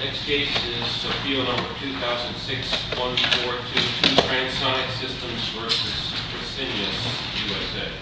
Next case is appeal number 2006-1422, Transonic Systems v. Fresenius, USA.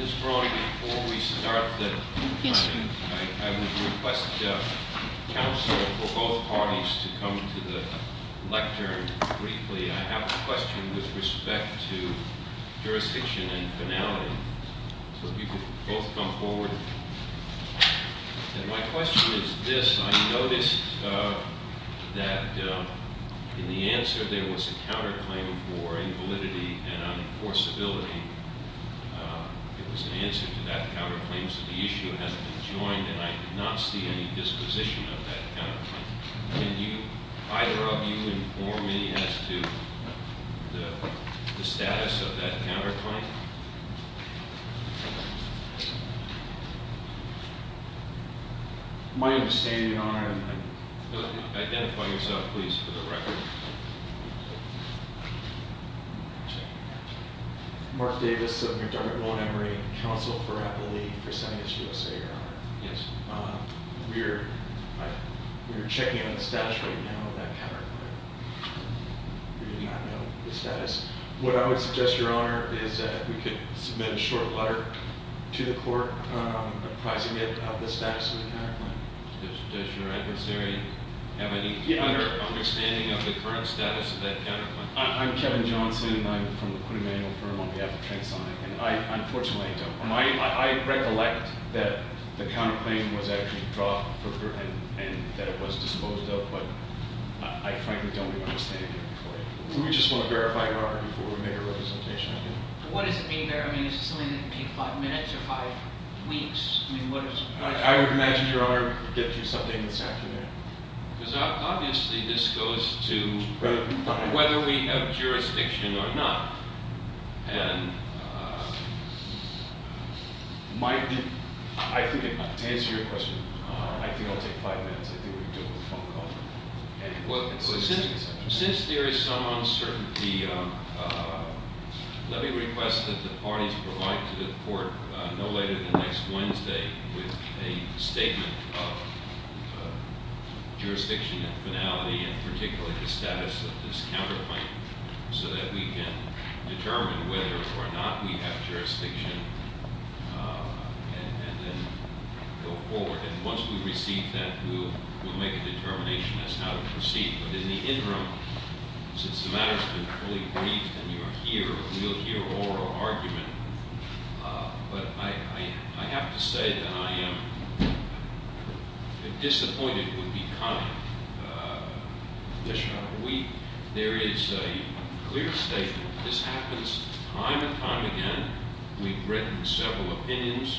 Ms. Braun, before we start, I would request counsel for both parties to come to the lectern briefly. I have a question with respect to jurisdiction and finality. So if you could both come forward. And my question is this. I noticed that in the answer there was a counterclaim for invalidity and unenforceability. It was an answer to that counterclaim, so the issue has been joined and I did not see any disposition of that counterclaim. Can you, either of you, inform me as to the status of that counterclaim? My understanding, Your Honor- Identify yourself, please, for the record. Mark Davis of the McDermott, Montgomery Council for Appalachia, Fresenius, USA, Your Honor. Yes. We are checking on the status right now of that counterclaim. We do not know the status. What I would suggest, Your Honor, is that we could submit a short letter to the court apprising it of the status of the counterclaim. Does your adversary have any other understanding of the current status of that counterclaim? I'm Kevin Johnson and I'm from the Quinn Emanuel firm on behalf of Transonic. And I recollect that the counterclaim was actually dropped and that it was disposed of, but I frankly don't understand it in any way. We just want to verify, Your Honor, before we make a representation again. What is it being verified? Is it something that would take five minutes or five weeks? I would imagine, Your Honor, we could get you something that's accurate. Because obviously this goes to whether we have jurisdiction or not. To answer your question, I think it will take five minutes. I think we can do it with a phone call. Since there is some uncertainty, let me request that the parties provide to the court no later than next Wednesday with a statement of jurisdiction and finality, and particularly the status of this counterclaim, so that we can determine whether or not we have jurisdiction and then go forward. And once we receive that, we'll make a determination as to how to proceed. But in the interim, since the matter has been fully briefed and you are here, you'll hear oral argument, but I have to say that I am disappointed would be kind. There is a clear statement. This happens time and time again. We've written several opinions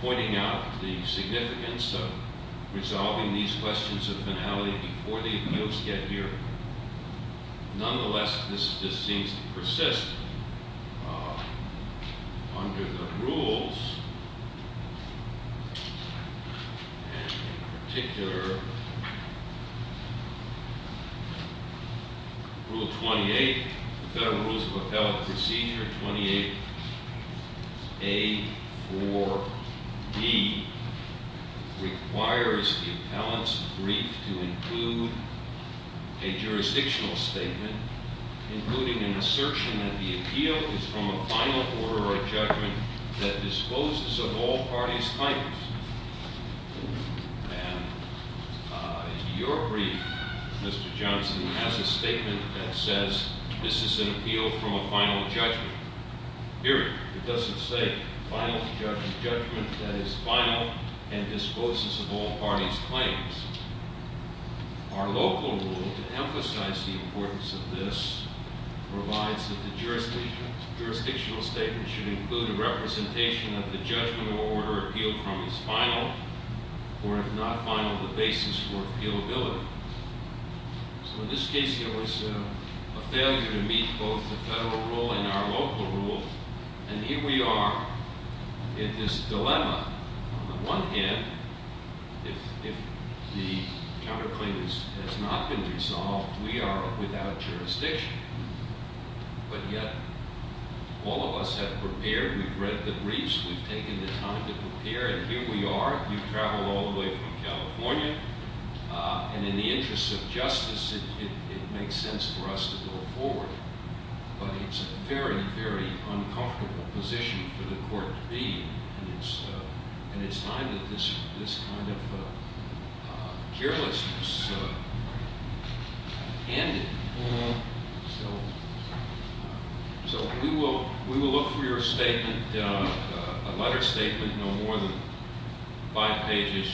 pointing out the significance of resolving these questions of finality before the appeals get here. Nonetheless, this seems to persist under the rules. In particular, Rule 28, Federal Rules of Appellant Procedure 28A4B, requires the appellant's brief to include a jurisdictional statement, including an assertion that the appeal is from a final order of judgment that disposes of all parties' titles. And your brief, Mr. Johnson, has a statement that says this is an appeal from a final judgment. Period. It doesn't say final judgment. Judgment that is final and disposes of all parties' claims. Our local rule, to emphasize the importance of this, provides that the jurisdictional statement should include a representation that the judgment or order appealed from is final, or if not final, the basis for appealability. So in this case, it was a failure to meet both the federal rule and our local rule. And here we are in this dilemma. On the one hand, if the counterclaim has not been resolved, we are without jurisdiction. But yet, all of us have prepared. We've read the briefs. We've taken the time to prepare. And here we are. You've traveled all the way from California. And in the interest of justice, it makes sense for us to go forward. But it's a very, very uncomfortable position for the court to be in. And it's time that this kind of carelessness ended. So we will look for your statement, a letter statement, no more than five pages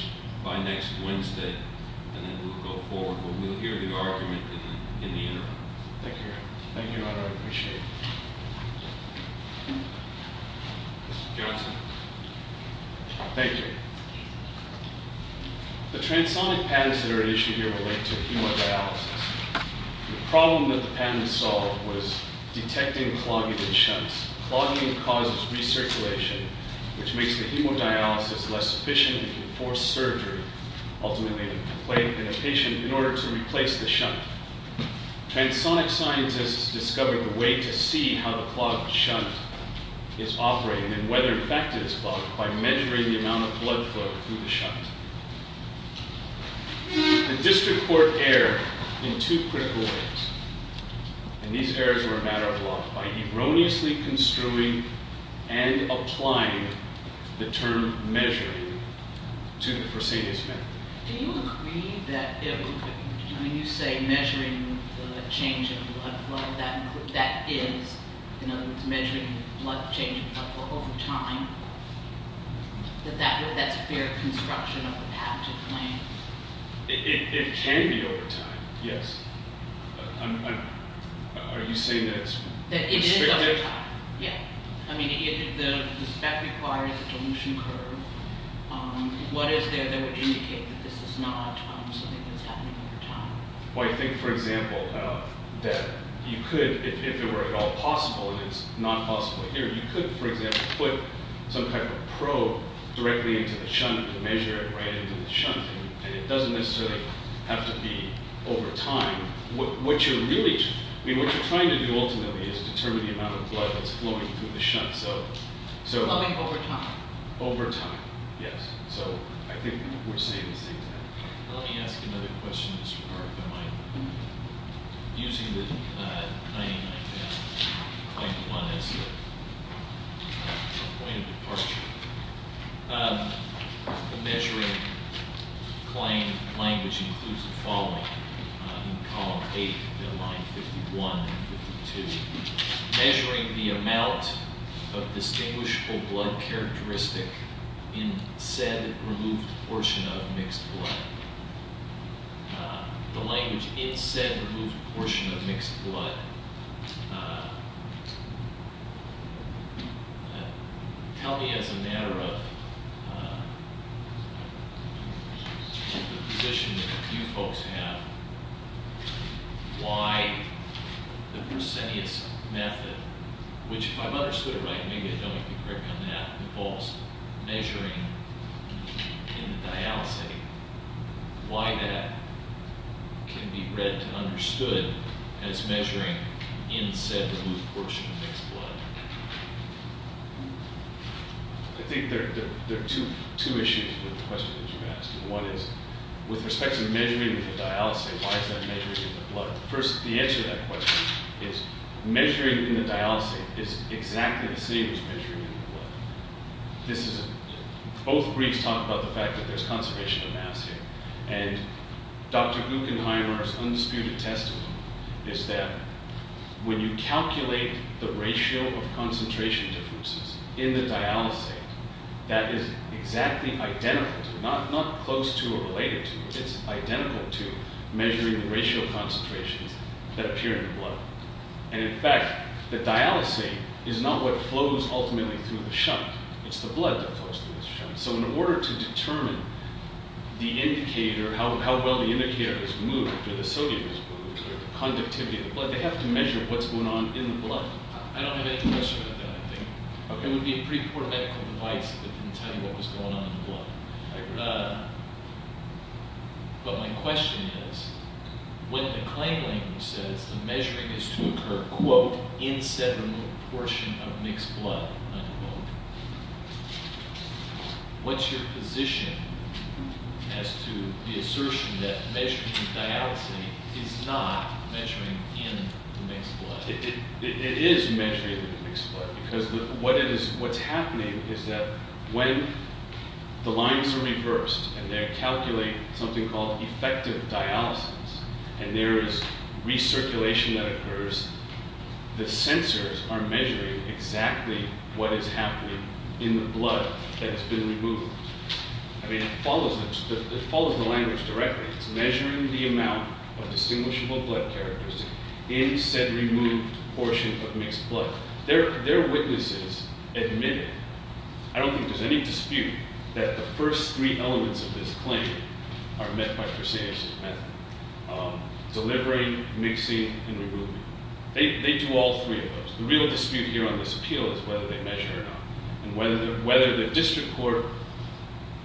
by next Wednesday. And then we'll go forward. But we'll hear the argument in the interim. Thank you. Thank you, Your Honor. I appreciate it. Mr. Johnson. Thank you. The transonic patterns that are at issue here relate to hemodialysis. The problem that the patent solved was detecting clogging in shunts. Clogging causes recirculation, which makes the hemodialysis less efficient and can force surgery, ultimately in a patient, in order to replace the shunt. Transonic scientists discovered a way to see how the clogged shunt is operating and whether it affected this clog by measuring the amount of blood flow through the shunt. The district court erred in two critical ways. And these errors were a matter of law by erroneously construing and applying the term measuring to the Fresenius method. Do you agree that when you say measuring the change in blood flow, that is, in other words, measuring blood change over time, that that's fair construction of a patented plan? It can be over time, yes. Are you saying that's restrictive? It is over time, yeah. I mean, if the spec requires a dilution curve, what is there that would indicate that this is not something that's happening over time? Well, I think, for example, that you could, if it were at all possible, and it's not possible here, you could, for example, put some type of probe directly into the shunt to measure it right into the shunt. And it doesn't necessarily have to be over time. I mean, what you're trying to do ultimately is determine the amount of blood that's flowing through the shunt, so- Flowing over time. Over time, yes. So I think we're saying the same thing. Let me ask another question in this regard. Am I using the 99.1 as the point of departure? Measuring, claim language includes the following in column 8, line 51 and 52. Measuring the amount of distinguishable blood characteristic in said removed portion of mixed blood. The language in said removed portion of mixed blood. Tell me, as a matter of the position that you folks have, why the Brusenius method, which if I've understood it right, maybe I don't need to correct on that, involves measuring in the dialysate. Why that can be read and understood as measuring in said removed portion of mixed blood? I think there are two issues with the question that you asked. One is, with respect to measuring in the dialysate, why is that measuring in the blood? First, the answer to that question is, measuring in the dialysate is exactly the same as measuring in the blood. Both briefs talk about the fact that there's concentration of mass here. And Dr. Guggenheimer's undisputed testimony is that when you calculate the ratio of concentration differences in the dialysate, that is exactly identical to, not close to or related to, it's identical to measuring the ratio of concentrations that appear in the blood. And in fact, the dialysate is not what flows ultimately through the shunt. It's the blood that flows through the shunt. So in order to determine the indicator, how well the indicator is moved, or the sodium is moved, or the conductivity of the blood, they have to measure what's going on in the blood. I don't have any question about that, I think. It would be a pretty poor medical device if it didn't tell you what was going on in the blood. But my question is, when the claim language says the measuring is to occur, quote, in said removed portion of mixed blood, unquote, what's your position as to the assertion that measuring in the dialysate is not measuring in the mixed blood? It is measuring in the mixed blood, because what's happening is that when the lines are reversed, and they calculate something called effective dialysis, and there is recirculation that occurs, the sensors are measuring exactly what is happening in the blood that has been removed. I mean, it follows the language directly. It's measuring the amount of distinguishable blood characteristics in said removed portion of mixed blood. Their witnesses admit it. I don't think there's any dispute that the first three elements of this claim are met by Cresenius' method. Delivering, mixing, and removing. They do all three of those. The real dispute here on this appeal is whether they measure or not. And whether the district court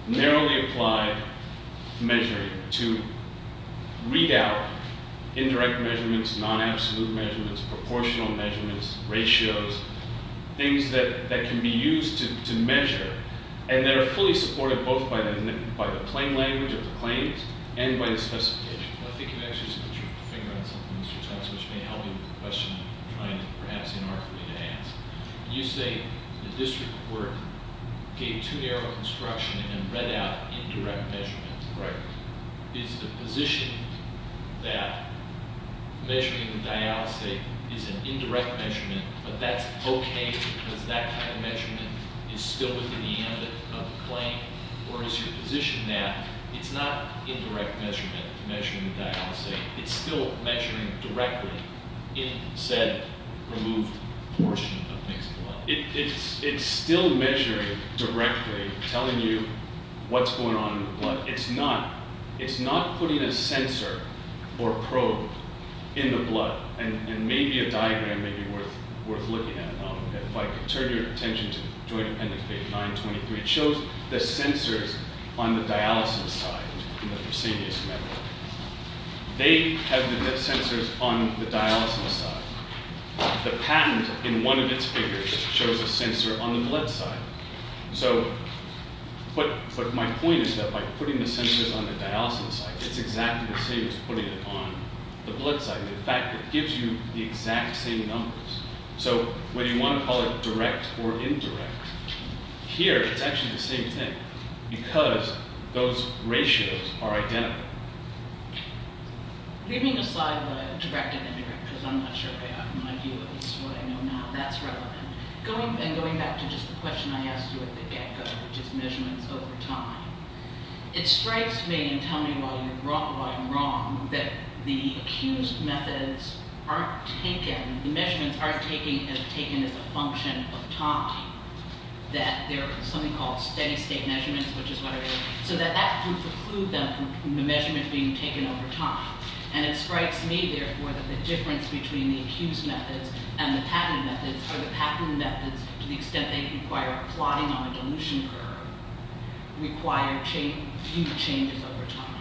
narrowly applied measuring to read out indirect measurements, non-absolute measurements, proportional measurements, ratios, things that can be used to measure, and that are fully supported both by the plain language of the claims and by the specifications. I think you've actually figured out something, Mr. Johnson, which may help you with the question you're trying to perhaps inarguably enhance. You say the district court gave too narrow instruction and read out indirect measurements. Right. Is the position that measuring the dialysis is an indirect measurement, but that's okay because that kind of measurement is still within the ambit of the claim? Or is your position that it's not indirect measurement, measuring the dialysis, it's still measuring directly in said removed portion of mixed blood? It's still measuring directly, telling you what's going on in the blood. It's not putting a sensor or probe in the blood. And maybe a diagram may be worth looking at. If I could turn your attention to Joint Appendix 923, it shows the sensors on the dialysis side in the proscenius membrane. They have the sensors on the dialysis side. The patent in one of its figures shows a sensor on the blood side. So what my point is that by putting the sensors on the dialysis side, it's exactly the same as putting it on the blood side. In fact, it gives you the exact same numbers. So whether you want to call it direct or indirect, here it's actually the same thing because those ratios are identical. Leaving aside the direct and indirect, because I'm not sure my view of it is what I know now, that's relevant. Going back to just the question I asked you at the get-go, which is measurements over time, it strikes me, and tell me why I'm wrong, that the accused methods aren't taken, the measurements aren't taken as a function of time. That they're something called steady-state measurements, which is what it is, so that that would preclude them from the measurement being taken over time. And it strikes me, therefore, that the difference between the accused methods and the patented methods are the patented methods, to the extent they require plotting on a dilution curve, require few changes over time.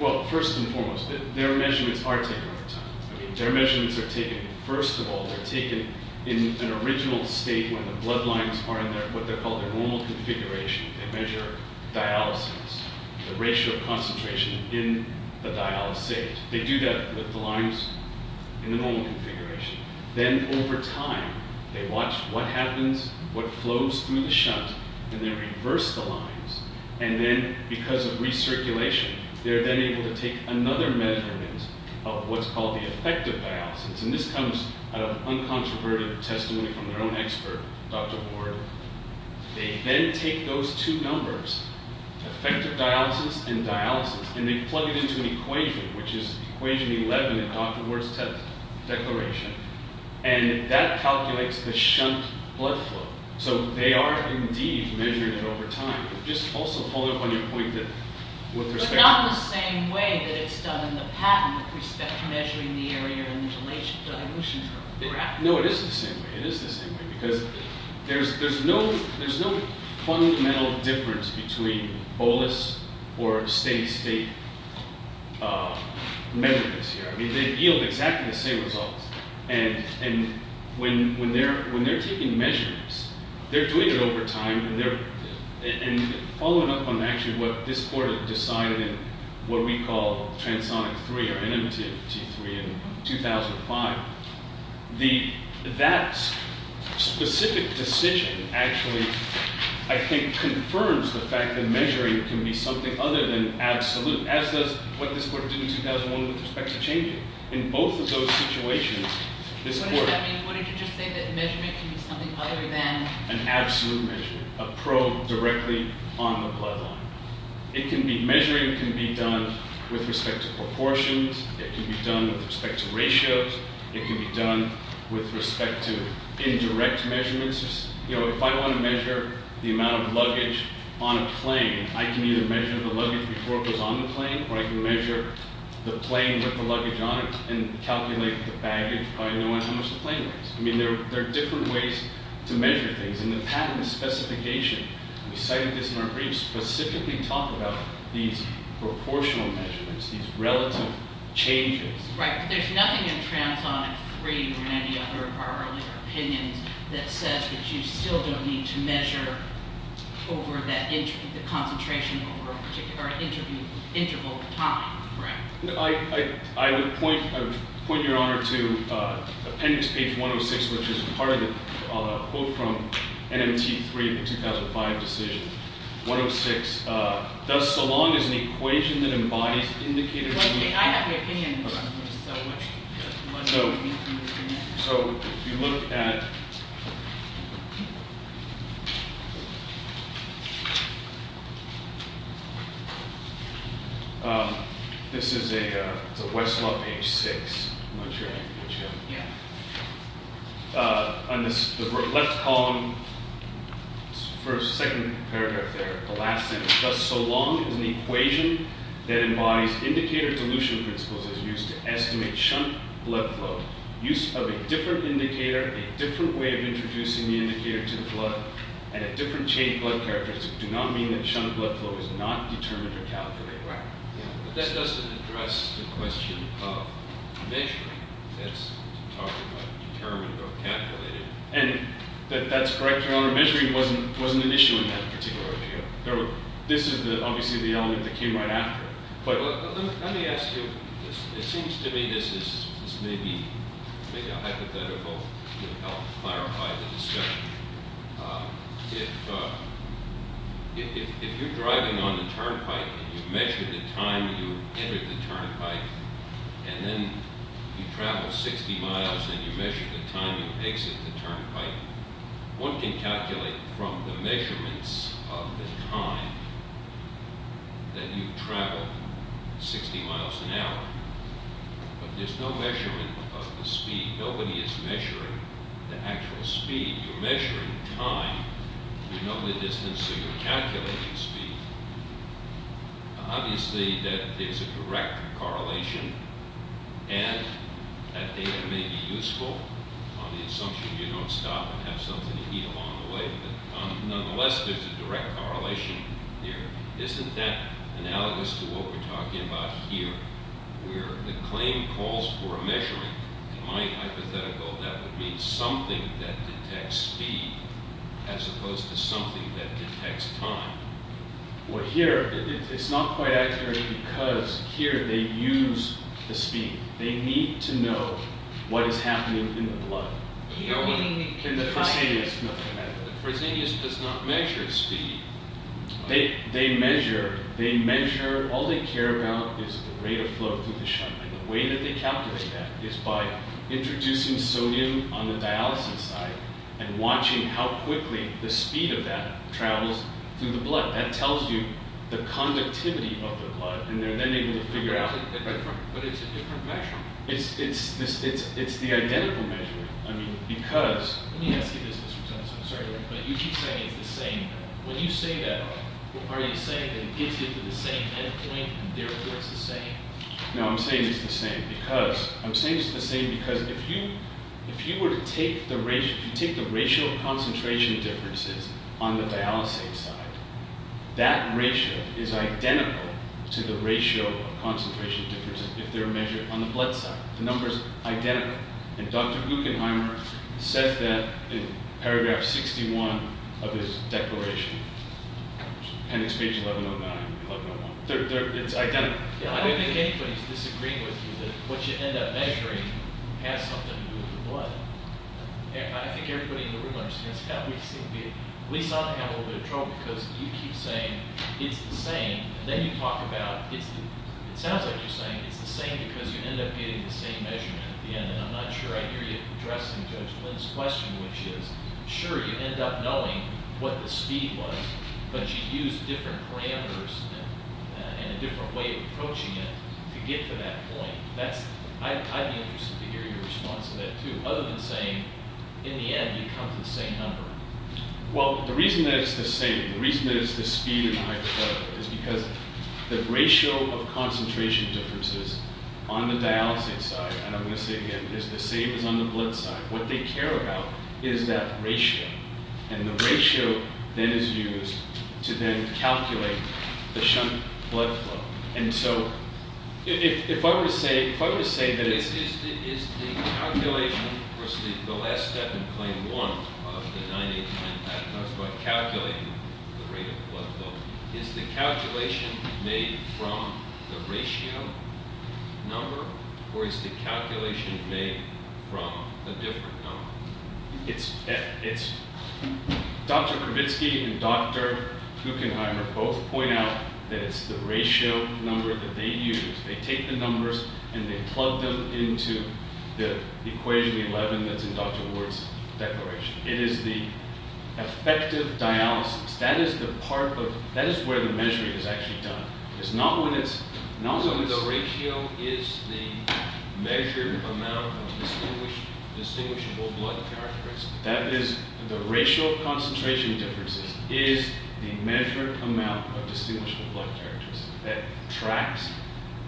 Well, first and foremost, their measurements are taken over time. I mean, their measurements are taken, first of all, they're taken in an original state where the blood lines are in what they call the normal configuration. They measure dialysis, the ratio of concentration in the dialysate. They do that with the lines in the normal configuration. Then, over time, they watch what happens, what flows through the shunt, and then reverse the lines. And then, because of recirculation, they're then able to take another measurement of what's called the effective dialysis. And this comes out of uncontroverted testimony from their own expert, Dr. Ward. They then take those two numbers, effective dialysis and dialysis, and they plug it into an equation, which is equation 11 in Dr. Ward's declaration. And that calculates the shunt blood flow. So they are, indeed, measuring it over time. Just also pulling up on your point that with respect to... No, it is the same way. It is the same way. Because there's no fundamental difference between bolus or state-to-state measurements here. I mean, they yield exactly the same results. And when they're taking measurements, they're doing it over time. And following up on, actually, what this court has decided in what we call transonic 3, or NMT3, in 2005, that specific decision actually, I think, confirms the fact that measuring can be something other than absolute, as does what this court did in 2001 with respect to changing. In both of those situations, this court... directly on the bloodline. It can be... Measuring can be done with respect to proportions. It can be done with respect to ratios. It can be done with respect to indirect measurements. You know, if I want to measure the amount of luggage on a plane, I can either measure the luggage before it goes on the plane, or I can measure the plane with the luggage on it and calculate the baggage by knowing how much the plane weighs. I mean, there are different ways to measure things. And the patent specification, we cited this in our briefs, specifically talked about these proportional measurements, these relative changes. Right, but there's nothing in transonic 3 or any other of our earlier opinions that says that you still don't need to measure over the concentration over an interval of time, right? I would point your honor to appendix page 106, which is part of the quote from NMT 3 of the 2005 decision. 106, thus so long as an equation that embodies indicated... I have my opinion. So, if you look at... This is a... it's a Westlaw page 6. I'm not sure I have the page here. Yeah. On the left column, first, second paragraph there, the last sentence. Thus so long as an equation that embodies indicator dilution principles is used to estimate shunt blood flow. Use of a different indicator, a different way of introducing the indicator to the blood, and a different chain of blood characteristics, do not mean that shunt blood flow is not determined or calculated. Right. But that doesn't address the question of measuring. That's talking about determined or calculated. And that's correct, your honor. Measuring wasn't an issue in that particular area. This is obviously the element that came right after. Let me ask you. It seems to me this is maybe a hypothetical to help clarify the discussion. If you're driving on the turnpike and you measure the time you enter the turnpike and then you travel 60 miles and you measure the time you exit the turnpike, one can calculate from the measurements of the time that you've traveled 60 miles an hour. But there's no measurement of the speed. Nobody is measuring the actual speed. You're measuring time. You know the distance, so you're calculating speed. Obviously, there's a direct correlation, and that data may be useful on the assumption you don't stop and have something to eat along the way. Nonetheless, there's a direct correlation here. Isn't that analogous to what we're talking about here where the claim calls for a measuring? In my hypothetical, that would mean something that detects speed as opposed to something that detects time. Well, here it's not quite accurate because here they use the speed. They need to know what is happening in the blood. The Fresenius does not measure speed. They measure. All they care about is the rate of flow through the shunt. The way that they calculate that is by introducing sodium on the dialysis side and watching how quickly the speed of that travels through the blood. That tells you the conductivity of the blood, and they're then able to figure out... But it's a different measurement. It's the identical measurement because... Let me ask you this, Mr. Jones. I'm sorry, but you keep saying it's the same. When you say that, are you saying that it gets you to the same end point and, therefore, it's the same? No, I'm saying it's the same because if you were to take the ratio of concentration differences on the dialysis side, that ratio is identical to the ratio of concentration differences if they're measured on the blood side. The number is identical, and Dr. Guggenheimer says that in paragraph 61 of his declaration. And it's page 1109, 1101. It's identical. I don't think anybody's disagreeing with you that what you end up measuring has something to do with the blood. I think everybody in the room understands that. At least I have a little bit of trouble because you keep saying it's the same, and then you talk about it sounds like you're saying it's the same because you end up getting the same measurement at the end. And I'm not sure I hear you addressing Judge Lynn's question, which is, sure, you end up knowing what the speed was, but you use different parameters and a different way of approaching it to get to that point. I'd be interested to hear your response to that, too, other than saying, in the end, you come to the same number. Well, the reason that it's the same, the reason that it's the speed in the hypothetical is because the ratio of concentration differences on the dialysis side, and I'm going to say it again, is the same as on the blood side. What they care about is that ratio, and the ratio then is used to then calculate the shunt blood flow. And so if I were to say that it's... Is the calculation, of course, the last step in claim one of the 989 and that's about calculating the rate of blood flow, is the calculation made from the ratio number or is the calculation made from a different number? It's... Dr. Kravitsky and Dr. Kukenheimer both point out that it's the ratio number that they use. They take the numbers and they plug them into the equation 11 that's in Dr. Ward's declaration. It is the effective dialysis. That is the part of... That is where the measuring is actually done. It's not when it's... So the ratio is the measured amount of distinguishable blood characteristics. That is... The ratio of concentration differences is the measured amount of distinguishable blood characteristics. That tracks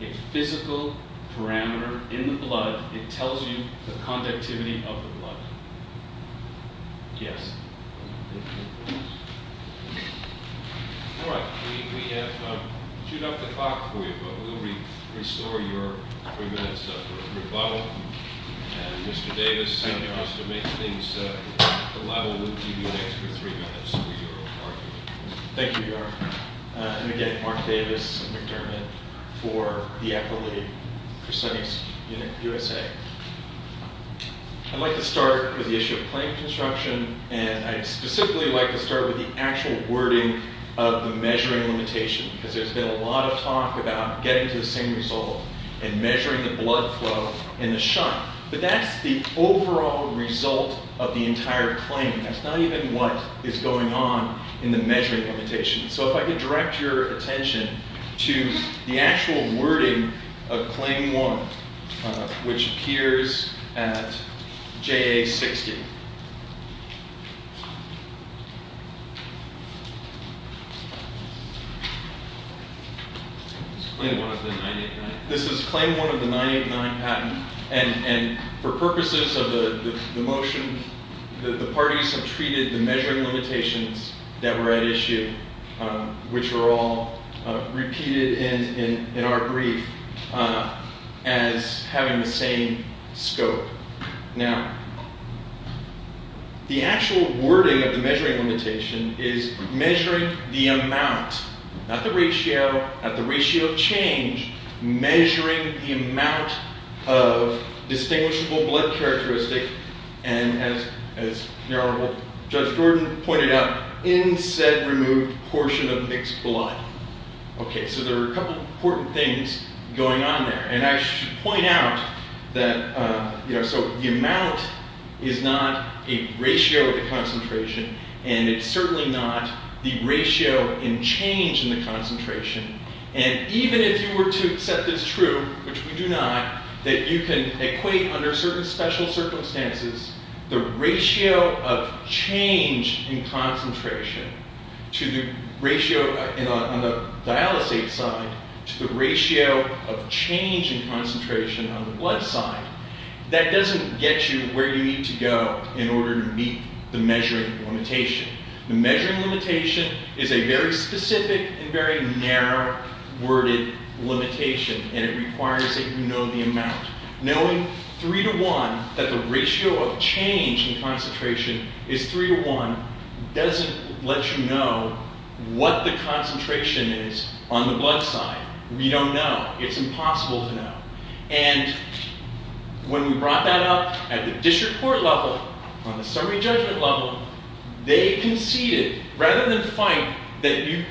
a physical parameter in the blood. It tells you the conductivity of the blood. Yes. All right. We have chewed up the clock for you. But we'll restore your three minutes for rebuttal. And Mr. Davis, if you'd like to make things a little louder, we'll give you an extra three minutes for your argument. Thank you, Your Honor. And again, Mark Davis and McDermott for the equity percentage in USA. I'd like to start with the issue of claim construction. And I'd specifically like to start with the actual wording of the measuring limitation. Because there's been a lot of talk about getting to the same result and measuring the blood flow in the shunt. But that's the overall result of the entire claim. That's not even what is going on in the measuring limitation. So if I could direct your attention to the actual wording of Claim 1, which appears at JA 60. This is Claim 1 of the 989 patent. And for purposes of the motion, the parties have treated the measuring limitations that were at issue, which are all repeated in our brief. As having the same scope. Now, the actual wording of the measuring limitation is measuring the amount, not the ratio, not the ratio of change, measuring the amount of distinguishable blood characteristic. And as Judge Gordon pointed out, in said removed portion of mixed blood. So there are a couple of important things going on there. And I should point out that the amount is not a ratio of the concentration. And it's certainly not the ratio in change in the concentration. And even if you were to accept this true, which we do not, that you can equate under certain special circumstances, the ratio of change in concentration to the ratio on the dialysate side to the ratio of change in concentration on the blood side, that doesn't get you where you need to go in order to meet the measuring limitation. The measuring limitation is a very specific and very narrow worded limitation. And it requires that you know the amount. Knowing 3 to 1, that the ratio of change in concentration is 3 to 1, doesn't let you know what the concentration is on the blood side. We don't know. It's impossible to know. And when we brought that up at the district court level, on the summary judgment level, they conceded, rather than fight that you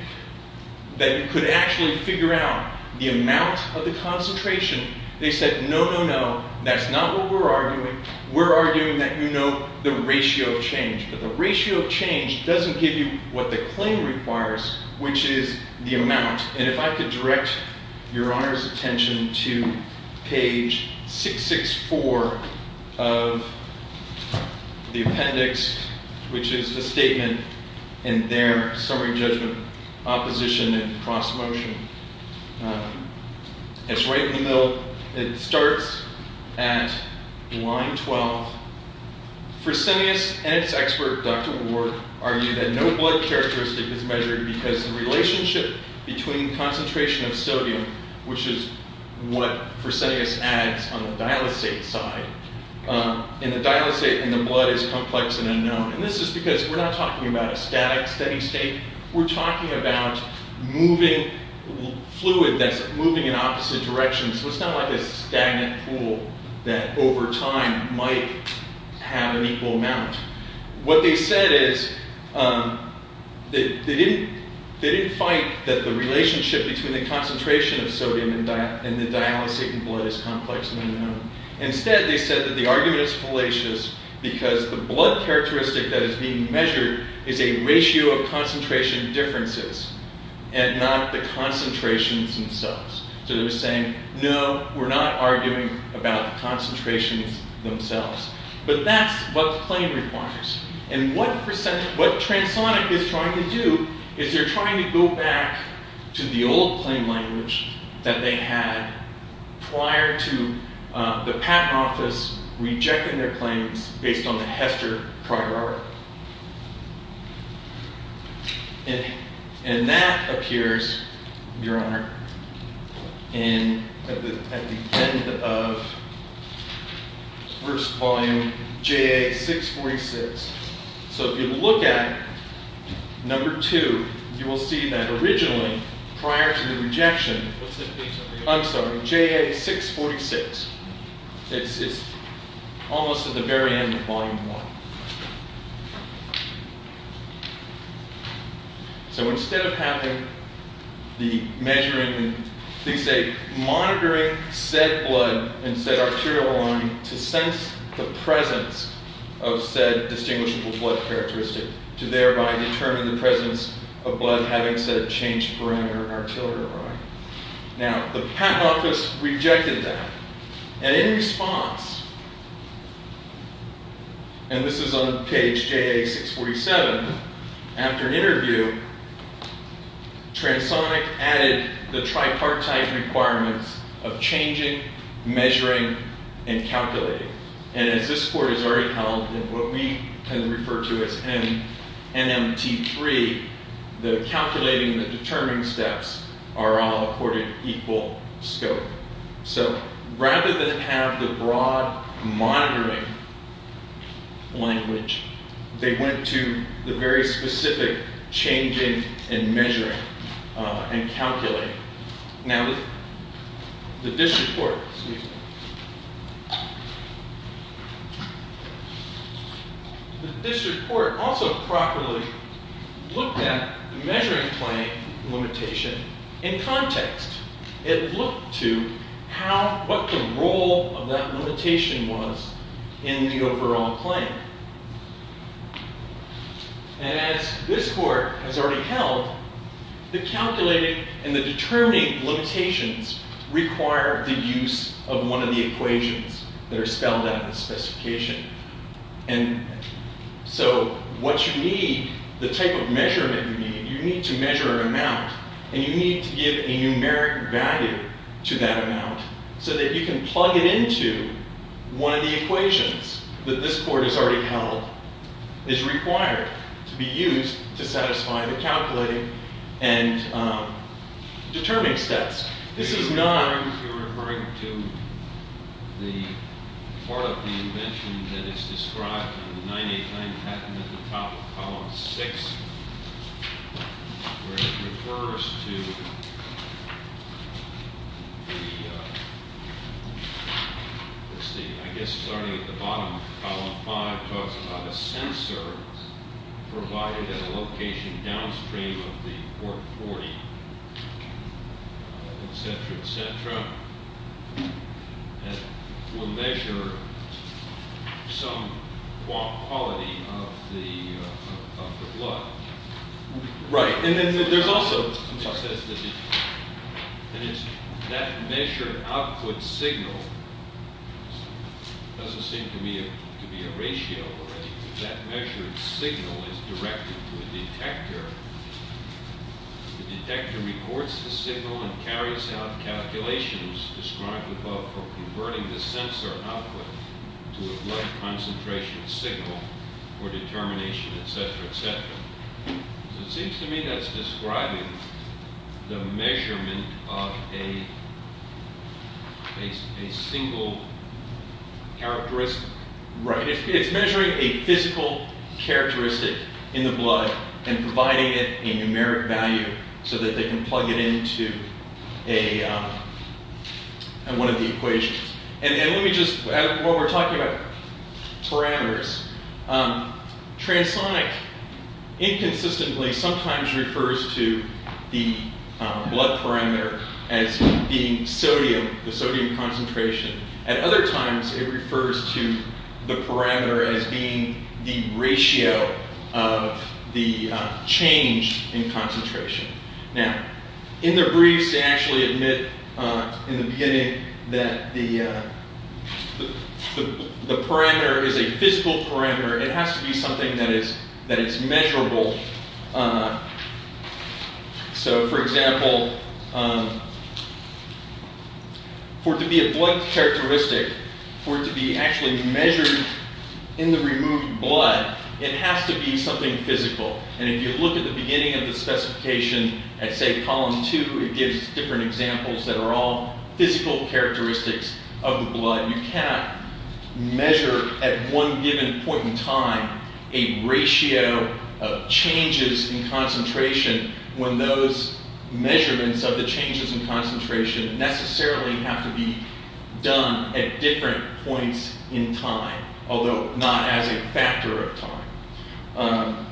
could actually figure out the amount of the concentration, they said, no, no, no, that's not what we're arguing. We're arguing that you know the ratio of change. But the ratio of change doesn't give you what the claim requires, which is the amount. And if I could direct your Honor's attention to page 664 of the appendix, which is the statement in their summary judgment opposition and cross motion. It's right in the middle. It starts at line 12. Fresenius and its expert, Dr. Warg, argue that no blood characteristic is measured because the relationship between concentration of sodium, which is what Fresenius adds on the dialysate side, in the dialysate in the blood is complex and unknown. And this is because we're not talking about a static, steady state. We're talking about fluid that's moving in opposite directions. So it's not like a stagnant pool that over time might have an equal amount. What they said is, they didn't fight that the relationship between the concentration of sodium and the dialysate in blood is complex and unknown. Instead they said that the argument is fallacious because the blood characteristic that is being measured is a ratio of concentration differences and not the concentrations themselves. So they're saying, no, we're not arguing about concentrations themselves. But that's what the claim requires. And what Transonic is trying to do is they're trying to go back to the old claim language that they had prior to the patent office rejecting their claims based on the Hester Priority. And that appears, Your Honor, at the end of first volume JA646. So if you look at number two, you will see that originally, prior to the rejection, I'm sorry, JA646. It's almost at the very end of volume one. So instead of having the measuring, they say monitoring said blood and said arterial line to sense the presence of said distinguishable blood characteristic to thereby determine the presence of blood having said changed parameter in arterial line. Now, the patent office rejected that. And in response, and this is on page JA647, after an interview, Transonic added the tripartite requirements of changing, measuring, and calculating. And as this court has already held in what we can refer to as NMT3, the calculating and the determining steps are all accorded equal scope. So rather than have the broad monitoring language, they went to the very specific changing and measuring and calculating. Now, the district court also properly looked at measuring claim limitation in context. It looked to what the role of that limitation was in the overall claim. And as this court has already held, the calculating and the determining limitations require the use of one of the equations that are spelled out in the specification. And so what you need, the type of measurement you need, you need to measure an amount. And you need to give a numeric value to that amount so that you can plug it into one of the equations that this court has already held is required to be used to satisfy the calculating and determining steps. This is not referring to the part of the invention that is described in the 989 patent at the top of column 6, where it refers to the, let's see, I guess starting at the bottom of column 5 talks about a sensor provided at a location downstream of the Port 40. Et cetera, et cetera. And we'll measure some quality of the blood. Right. And then there's also, it says that that measured output signal doesn't seem to be a ratio, right? That measured signal is directed to a detector. The detector records the signal and carries out calculations described above for converting the sensor output to a blood concentration signal for determination, et cetera, et cetera. So it seems to me that's describing the measurement of a single characteristic. Right. It's measuring a physical characteristic in the blood and providing it a numeric value so that they can plug it into one of the equations. And let me just, while we're talking about parameters, transonic inconsistently sometimes refers to the blood parameter as being sodium, the sodium concentration. At other times, it refers to the parameter as being the ratio of the change in concentration. Now, in their briefs, they actually admit in the beginning that the parameter is a physical parameter. It has to be something that is measurable. So, for example, for it to be a blood characteristic, for it to be actually measured in the removed blood, it has to be something physical. And if you look at the beginning of the specification at, say, column 2, it gives different examples that are all physical characteristics of the blood. You cannot measure at one given point in time a ratio of changes in concentration when those measurements of the changes in concentration necessarily have to be done at different points in time, although not as a factor of time.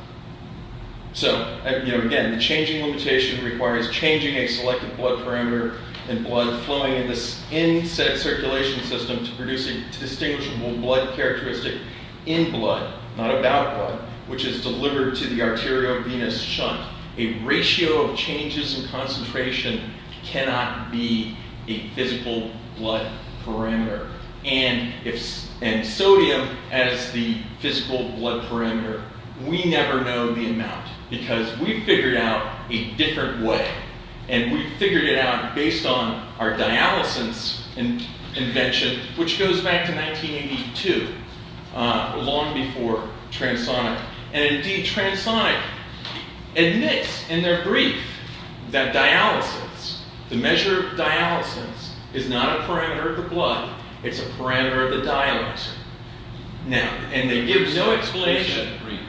So, again, the changing limitation requires changing a selected blood parameter and blood flowing in the in-set circulation system to produce a distinguishable blood characteristic in blood, not about blood, which is delivered to the arteriovenous shunt. A ratio of changes in concentration cannot be a physical blood parameter. And sodium, as the physical blood parameter, we never know the amount because we figured out a different way. And we figured it out based on our dialysis invention, which goes back to 1982, long before transonic. And, indeed, transonic admits in their brief that dialysis, the measure of dialysis, is not a parameter of the blood, it's a parameter of the dialyzer. And they give no explanation in the brief.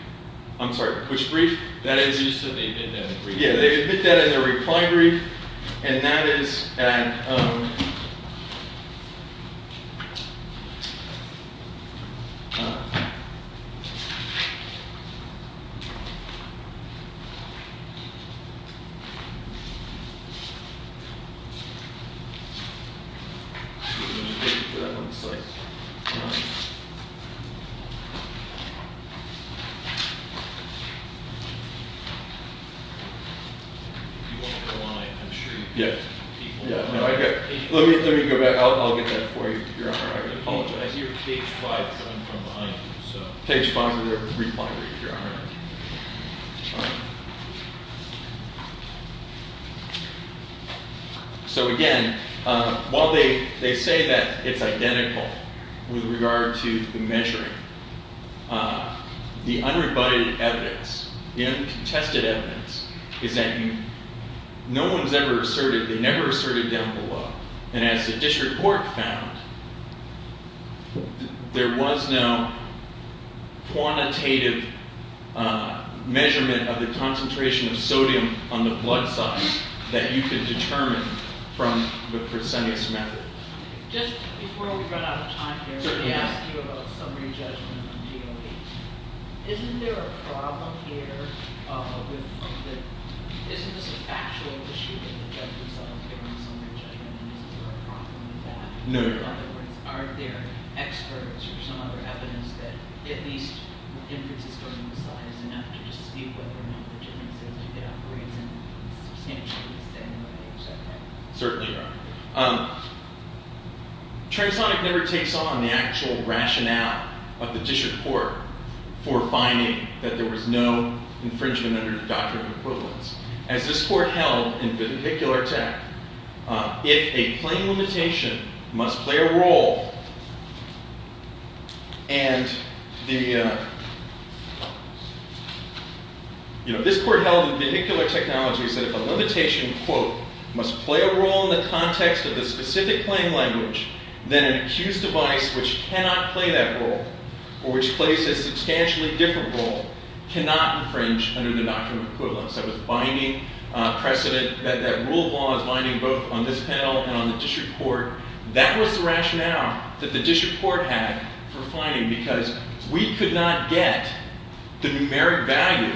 I'm sorry, which brief? They admit that in their reply brief, and that is at... Let me go back, I'll get that for you, Your Honor, I apologize. You're on page 5, so I'm coming behind you. Page 5 of their brief, Your Honor. So, again, while they say that it's identical with regard to the measuring, the unrebutted evidence, the uncontested evidence, is that no one's ever asserted, they never asserted down below. And as the district court found, there was no quantitative measurement of the concentration of sodium on the blood size that you could determine from the proscenius method. Just before we run out of time here, let me ask you about summary judgment of DOE. Isn't there a problem here with... Isn't this a factual issue that the judge is solving on summary judgment, and is there a problem with that? No, Your Honor. In other words, are there experts or some other evidence that at least the inference is going to size enough to dispute whether or not the genesis of it operates in substantially the same way, etc.? Certainly, Your Honor. Transonic never takes on the actual rationale of the district court for finding that there was no infringement under the doctrine of equivalence. As this court held in vehicular tech, if a claim limitation must play a role, and the... You know, this court held in vehicular technology said if a limitation, quote, must play a role in the context of the specific claim language, then an accused device which cannot play that role, or which plays a substantially different role, cannot infringe under the doctrine of equivalence. That was binding precedent. That rule of law is binding both on this panel and on the district court. That was the rationale that the district court had for finding, because we could not get the numeric value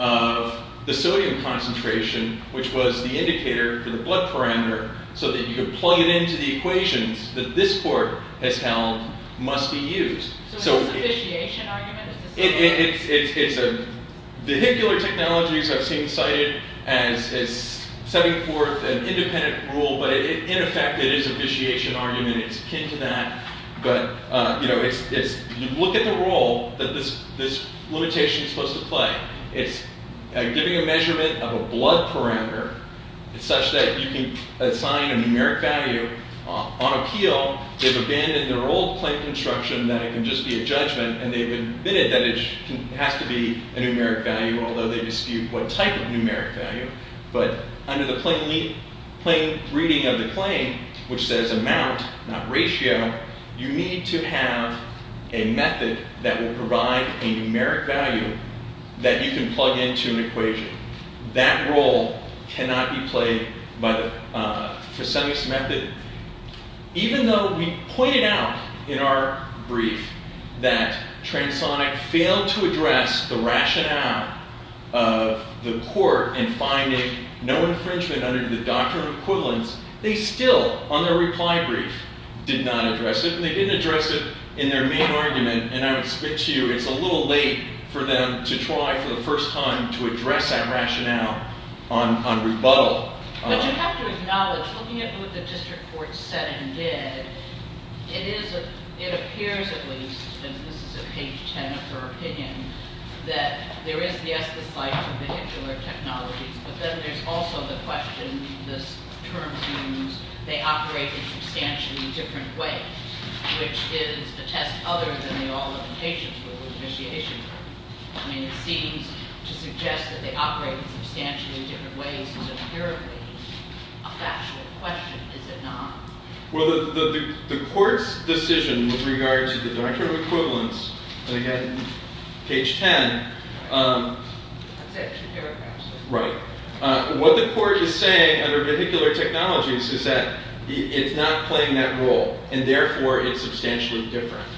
of the sodium concentration, which was the indicator for the blood parameter, so that you could plug it into the equations that this court has held must be used. So is this a vitiation argument? It's a... Vehicular technologies I've seen cited as setting forth an independent rule, but in effect it is a vitiation argument. It's akin to that. But, you know, it's... You look at the role that this limitation is supposed to play. It's giving a measurement of a blood parameter such that you can assign a numeric value on appeal Well, they've abandoned their old plain construction that it can just be a judgment, and they've admitted that it has to be a numeric value, although they dispute what type of numeric value. But under the plain reading of the claim, which says amount, not ratio, you need to have a method that will provide a numeric value that you can plug into an equation. That role cannot be played by the Fasemius method. Even though we pointed out in our brief that Transonic failed to address the rationale of the court in finding no infringement under the doctrine of equivalence, they still, on their reply brief, did not address it. And they didn't address it in their main argument, and I would spit to you it's a little late for them to try for the first time to address that rationale on rebuttal. But you have to acknowledge, looking at what the district court said and did, it appears at least, and this is at page 10 of her opinion, that there is the esthesize of vehicular technologies, but then there's also the question, this term seems they operate in substantially different ways, which is a test other than the all-implications with the initiation. I mean, it seems to suggest that they operate in substantially different ways is inherently a factual question, is it not? Well, the court's decision with regard to the doctrine of equivalence, and again, page 10, what the court is saying under vehicular technologies is that it's not playing that role, and therefore it's substantially different,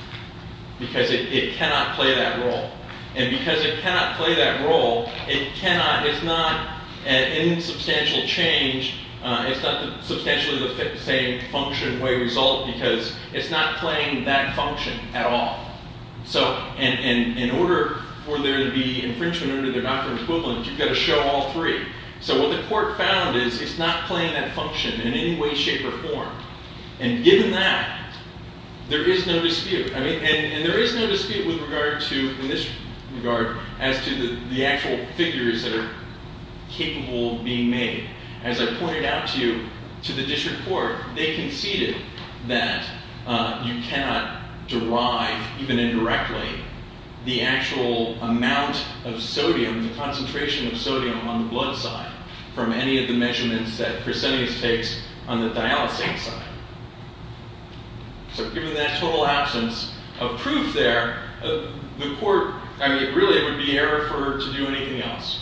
because it cannot play that role. And because it cannot play that role, it's not in substantial change. It's not substantially the same function, way, result, because it's not playing that function at all. So in order for there to be infringement under the doctrine of equivalence, you've got to show all three. So what the court found is it's not playing that function in any way, shape, or form. And given that, there is no dispute. And there is no dispute in this regard as to the actual figures that are capable of being made. As I pointed out to you, to the district court, they conceded that you cannot derive, even indirectly, the actual amount of sodium, the concentration of sodium on the blood side from any of the measurements that Chrysanius takes on the dialysate side. So given that total absence of proof there, the court, really, it would be error for her to do anything else.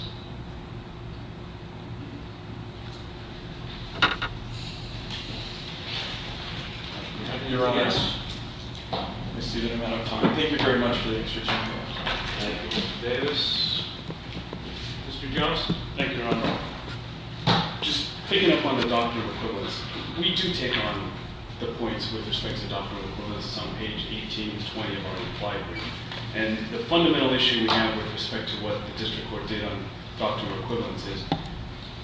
Your Honor, I see that I'm out of time. Thank you very much for the extra time. Thank you, Mr. Davis. Mr. Jones? Thank you, Your Honor. Just picking up on the doctrine of equivalence, we do take on the points with respect to the doctrine of equivalence. It's on page 18 and 20 of our reply brief. And the fundamental issue we have with respect to what the district court did on doctrine of equivalence is,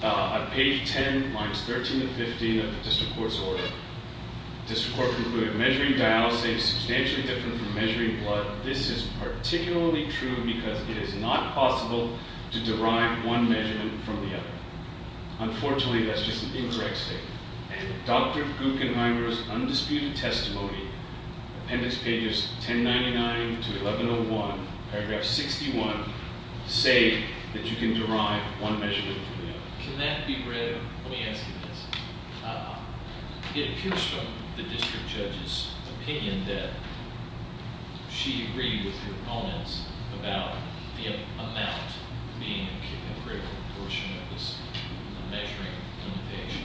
on page 10, lines 13 and 15 of the district court's order, the district court concluded, measuring dialysate is substantially different from measuring blood. This is particularly true because it is not possible to derive one measurement from the other. Unfortunately, that's just an incorrect statement. And Dr. Guckenheimer's undisputed testimony, appendix pages 1099 to 1101, paragraph 61, say that you can derive one measurement from the other. Can that be read? Let me ask you this. It appears from the district judge's opinion that she agreed with her opponents about the amount being a critical portion of this measuring limitation.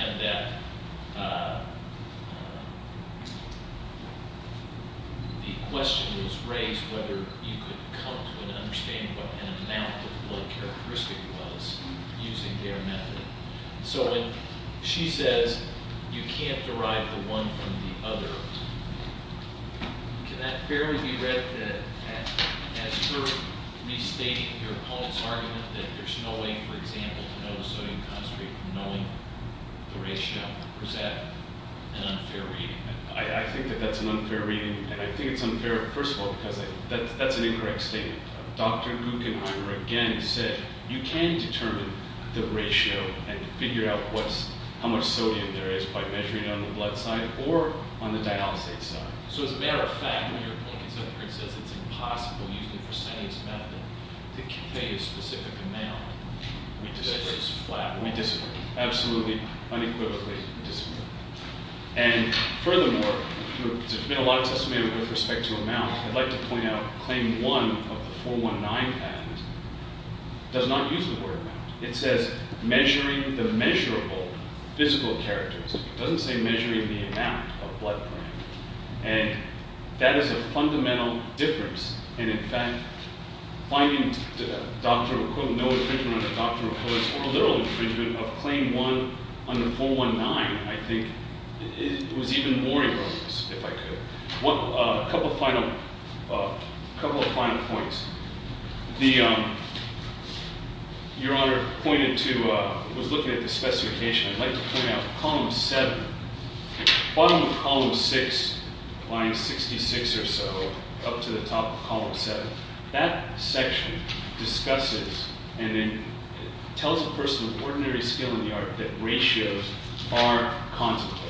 And that the question was raised whether you could come to an understanding of what an amount of blood characteristic was using their method. So when she says you can't derive the one from the other, can that fairly be read as her restating her opponent's argument that there's no way, for example, to know the sodium concentrate, knowing the ratio, or is that an unfair reading? I think that that's an unfair reading. And I think it's unfair, first of all, because that's an incorrect statement. Dr. Guckenheimer again said, you can determine the ratio and figure out how much sodium there is by measuring it on the blood side or on the dialysate side. So as a matter of fact, when your opponent says it's impossible, using Fresenius method, to convey a specific amount, we disagree. Absolutely unequivocally disagree. And furthermore, there's been a lot of testimony with respect to amount. I'd like to point out claim one of the 419 patent does not use the word amount. It says measuring the measurable physical characteristics. It doesn't say measuring the amount of blood gram. And that is a fundamental difference. And in fact, finding no infringement under the Doctrine of Quotas or a literal infringement of claim one under 419, I think, was even more erroneous, if I could. A couple of final points. Your Honor pointed to, was looking at the specification. I'd like to point out column seven. Bottom of column six, line 66 or so, up to the top of column seven. That section discusses and then tells a person with ordinary skill in the art that ratios are contemplated.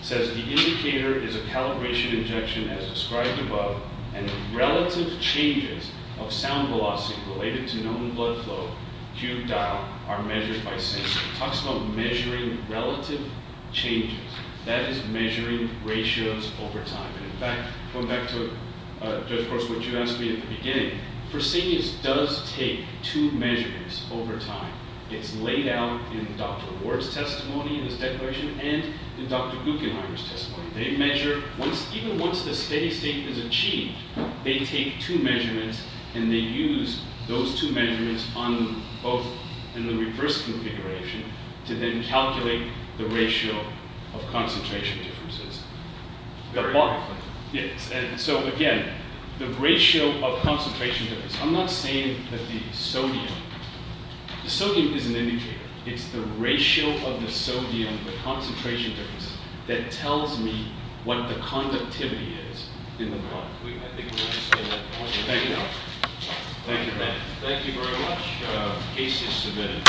It says the indicator is a calibration injection, as described above, and relative changes of sound velocity related to known blood flow, cued dial, are measured by sensor. It talks about measuring relative changes. That is measuring ratios over time. And in fact, going back to, of course, what you asked me at the beginning, Fresenius does take two measurements over time. It's laid out in Dr. Ward's testimony in his declaration and in Dr. Guggenheim's testimony. They measure, even once the steady state is achieved, they take two measurements and they use those two measurements on both in the reverse configuration to then calculate the ratio of concentration differences. Got that? Yes. So again, the ratio of concentration difference. I'm not saying that the sodium. Sodium is an indicator. It's the ratio of the sodium, the concentration difference, that tells me what the conductivity is in the blood. Thank you. Thank you very much. Case is submitted.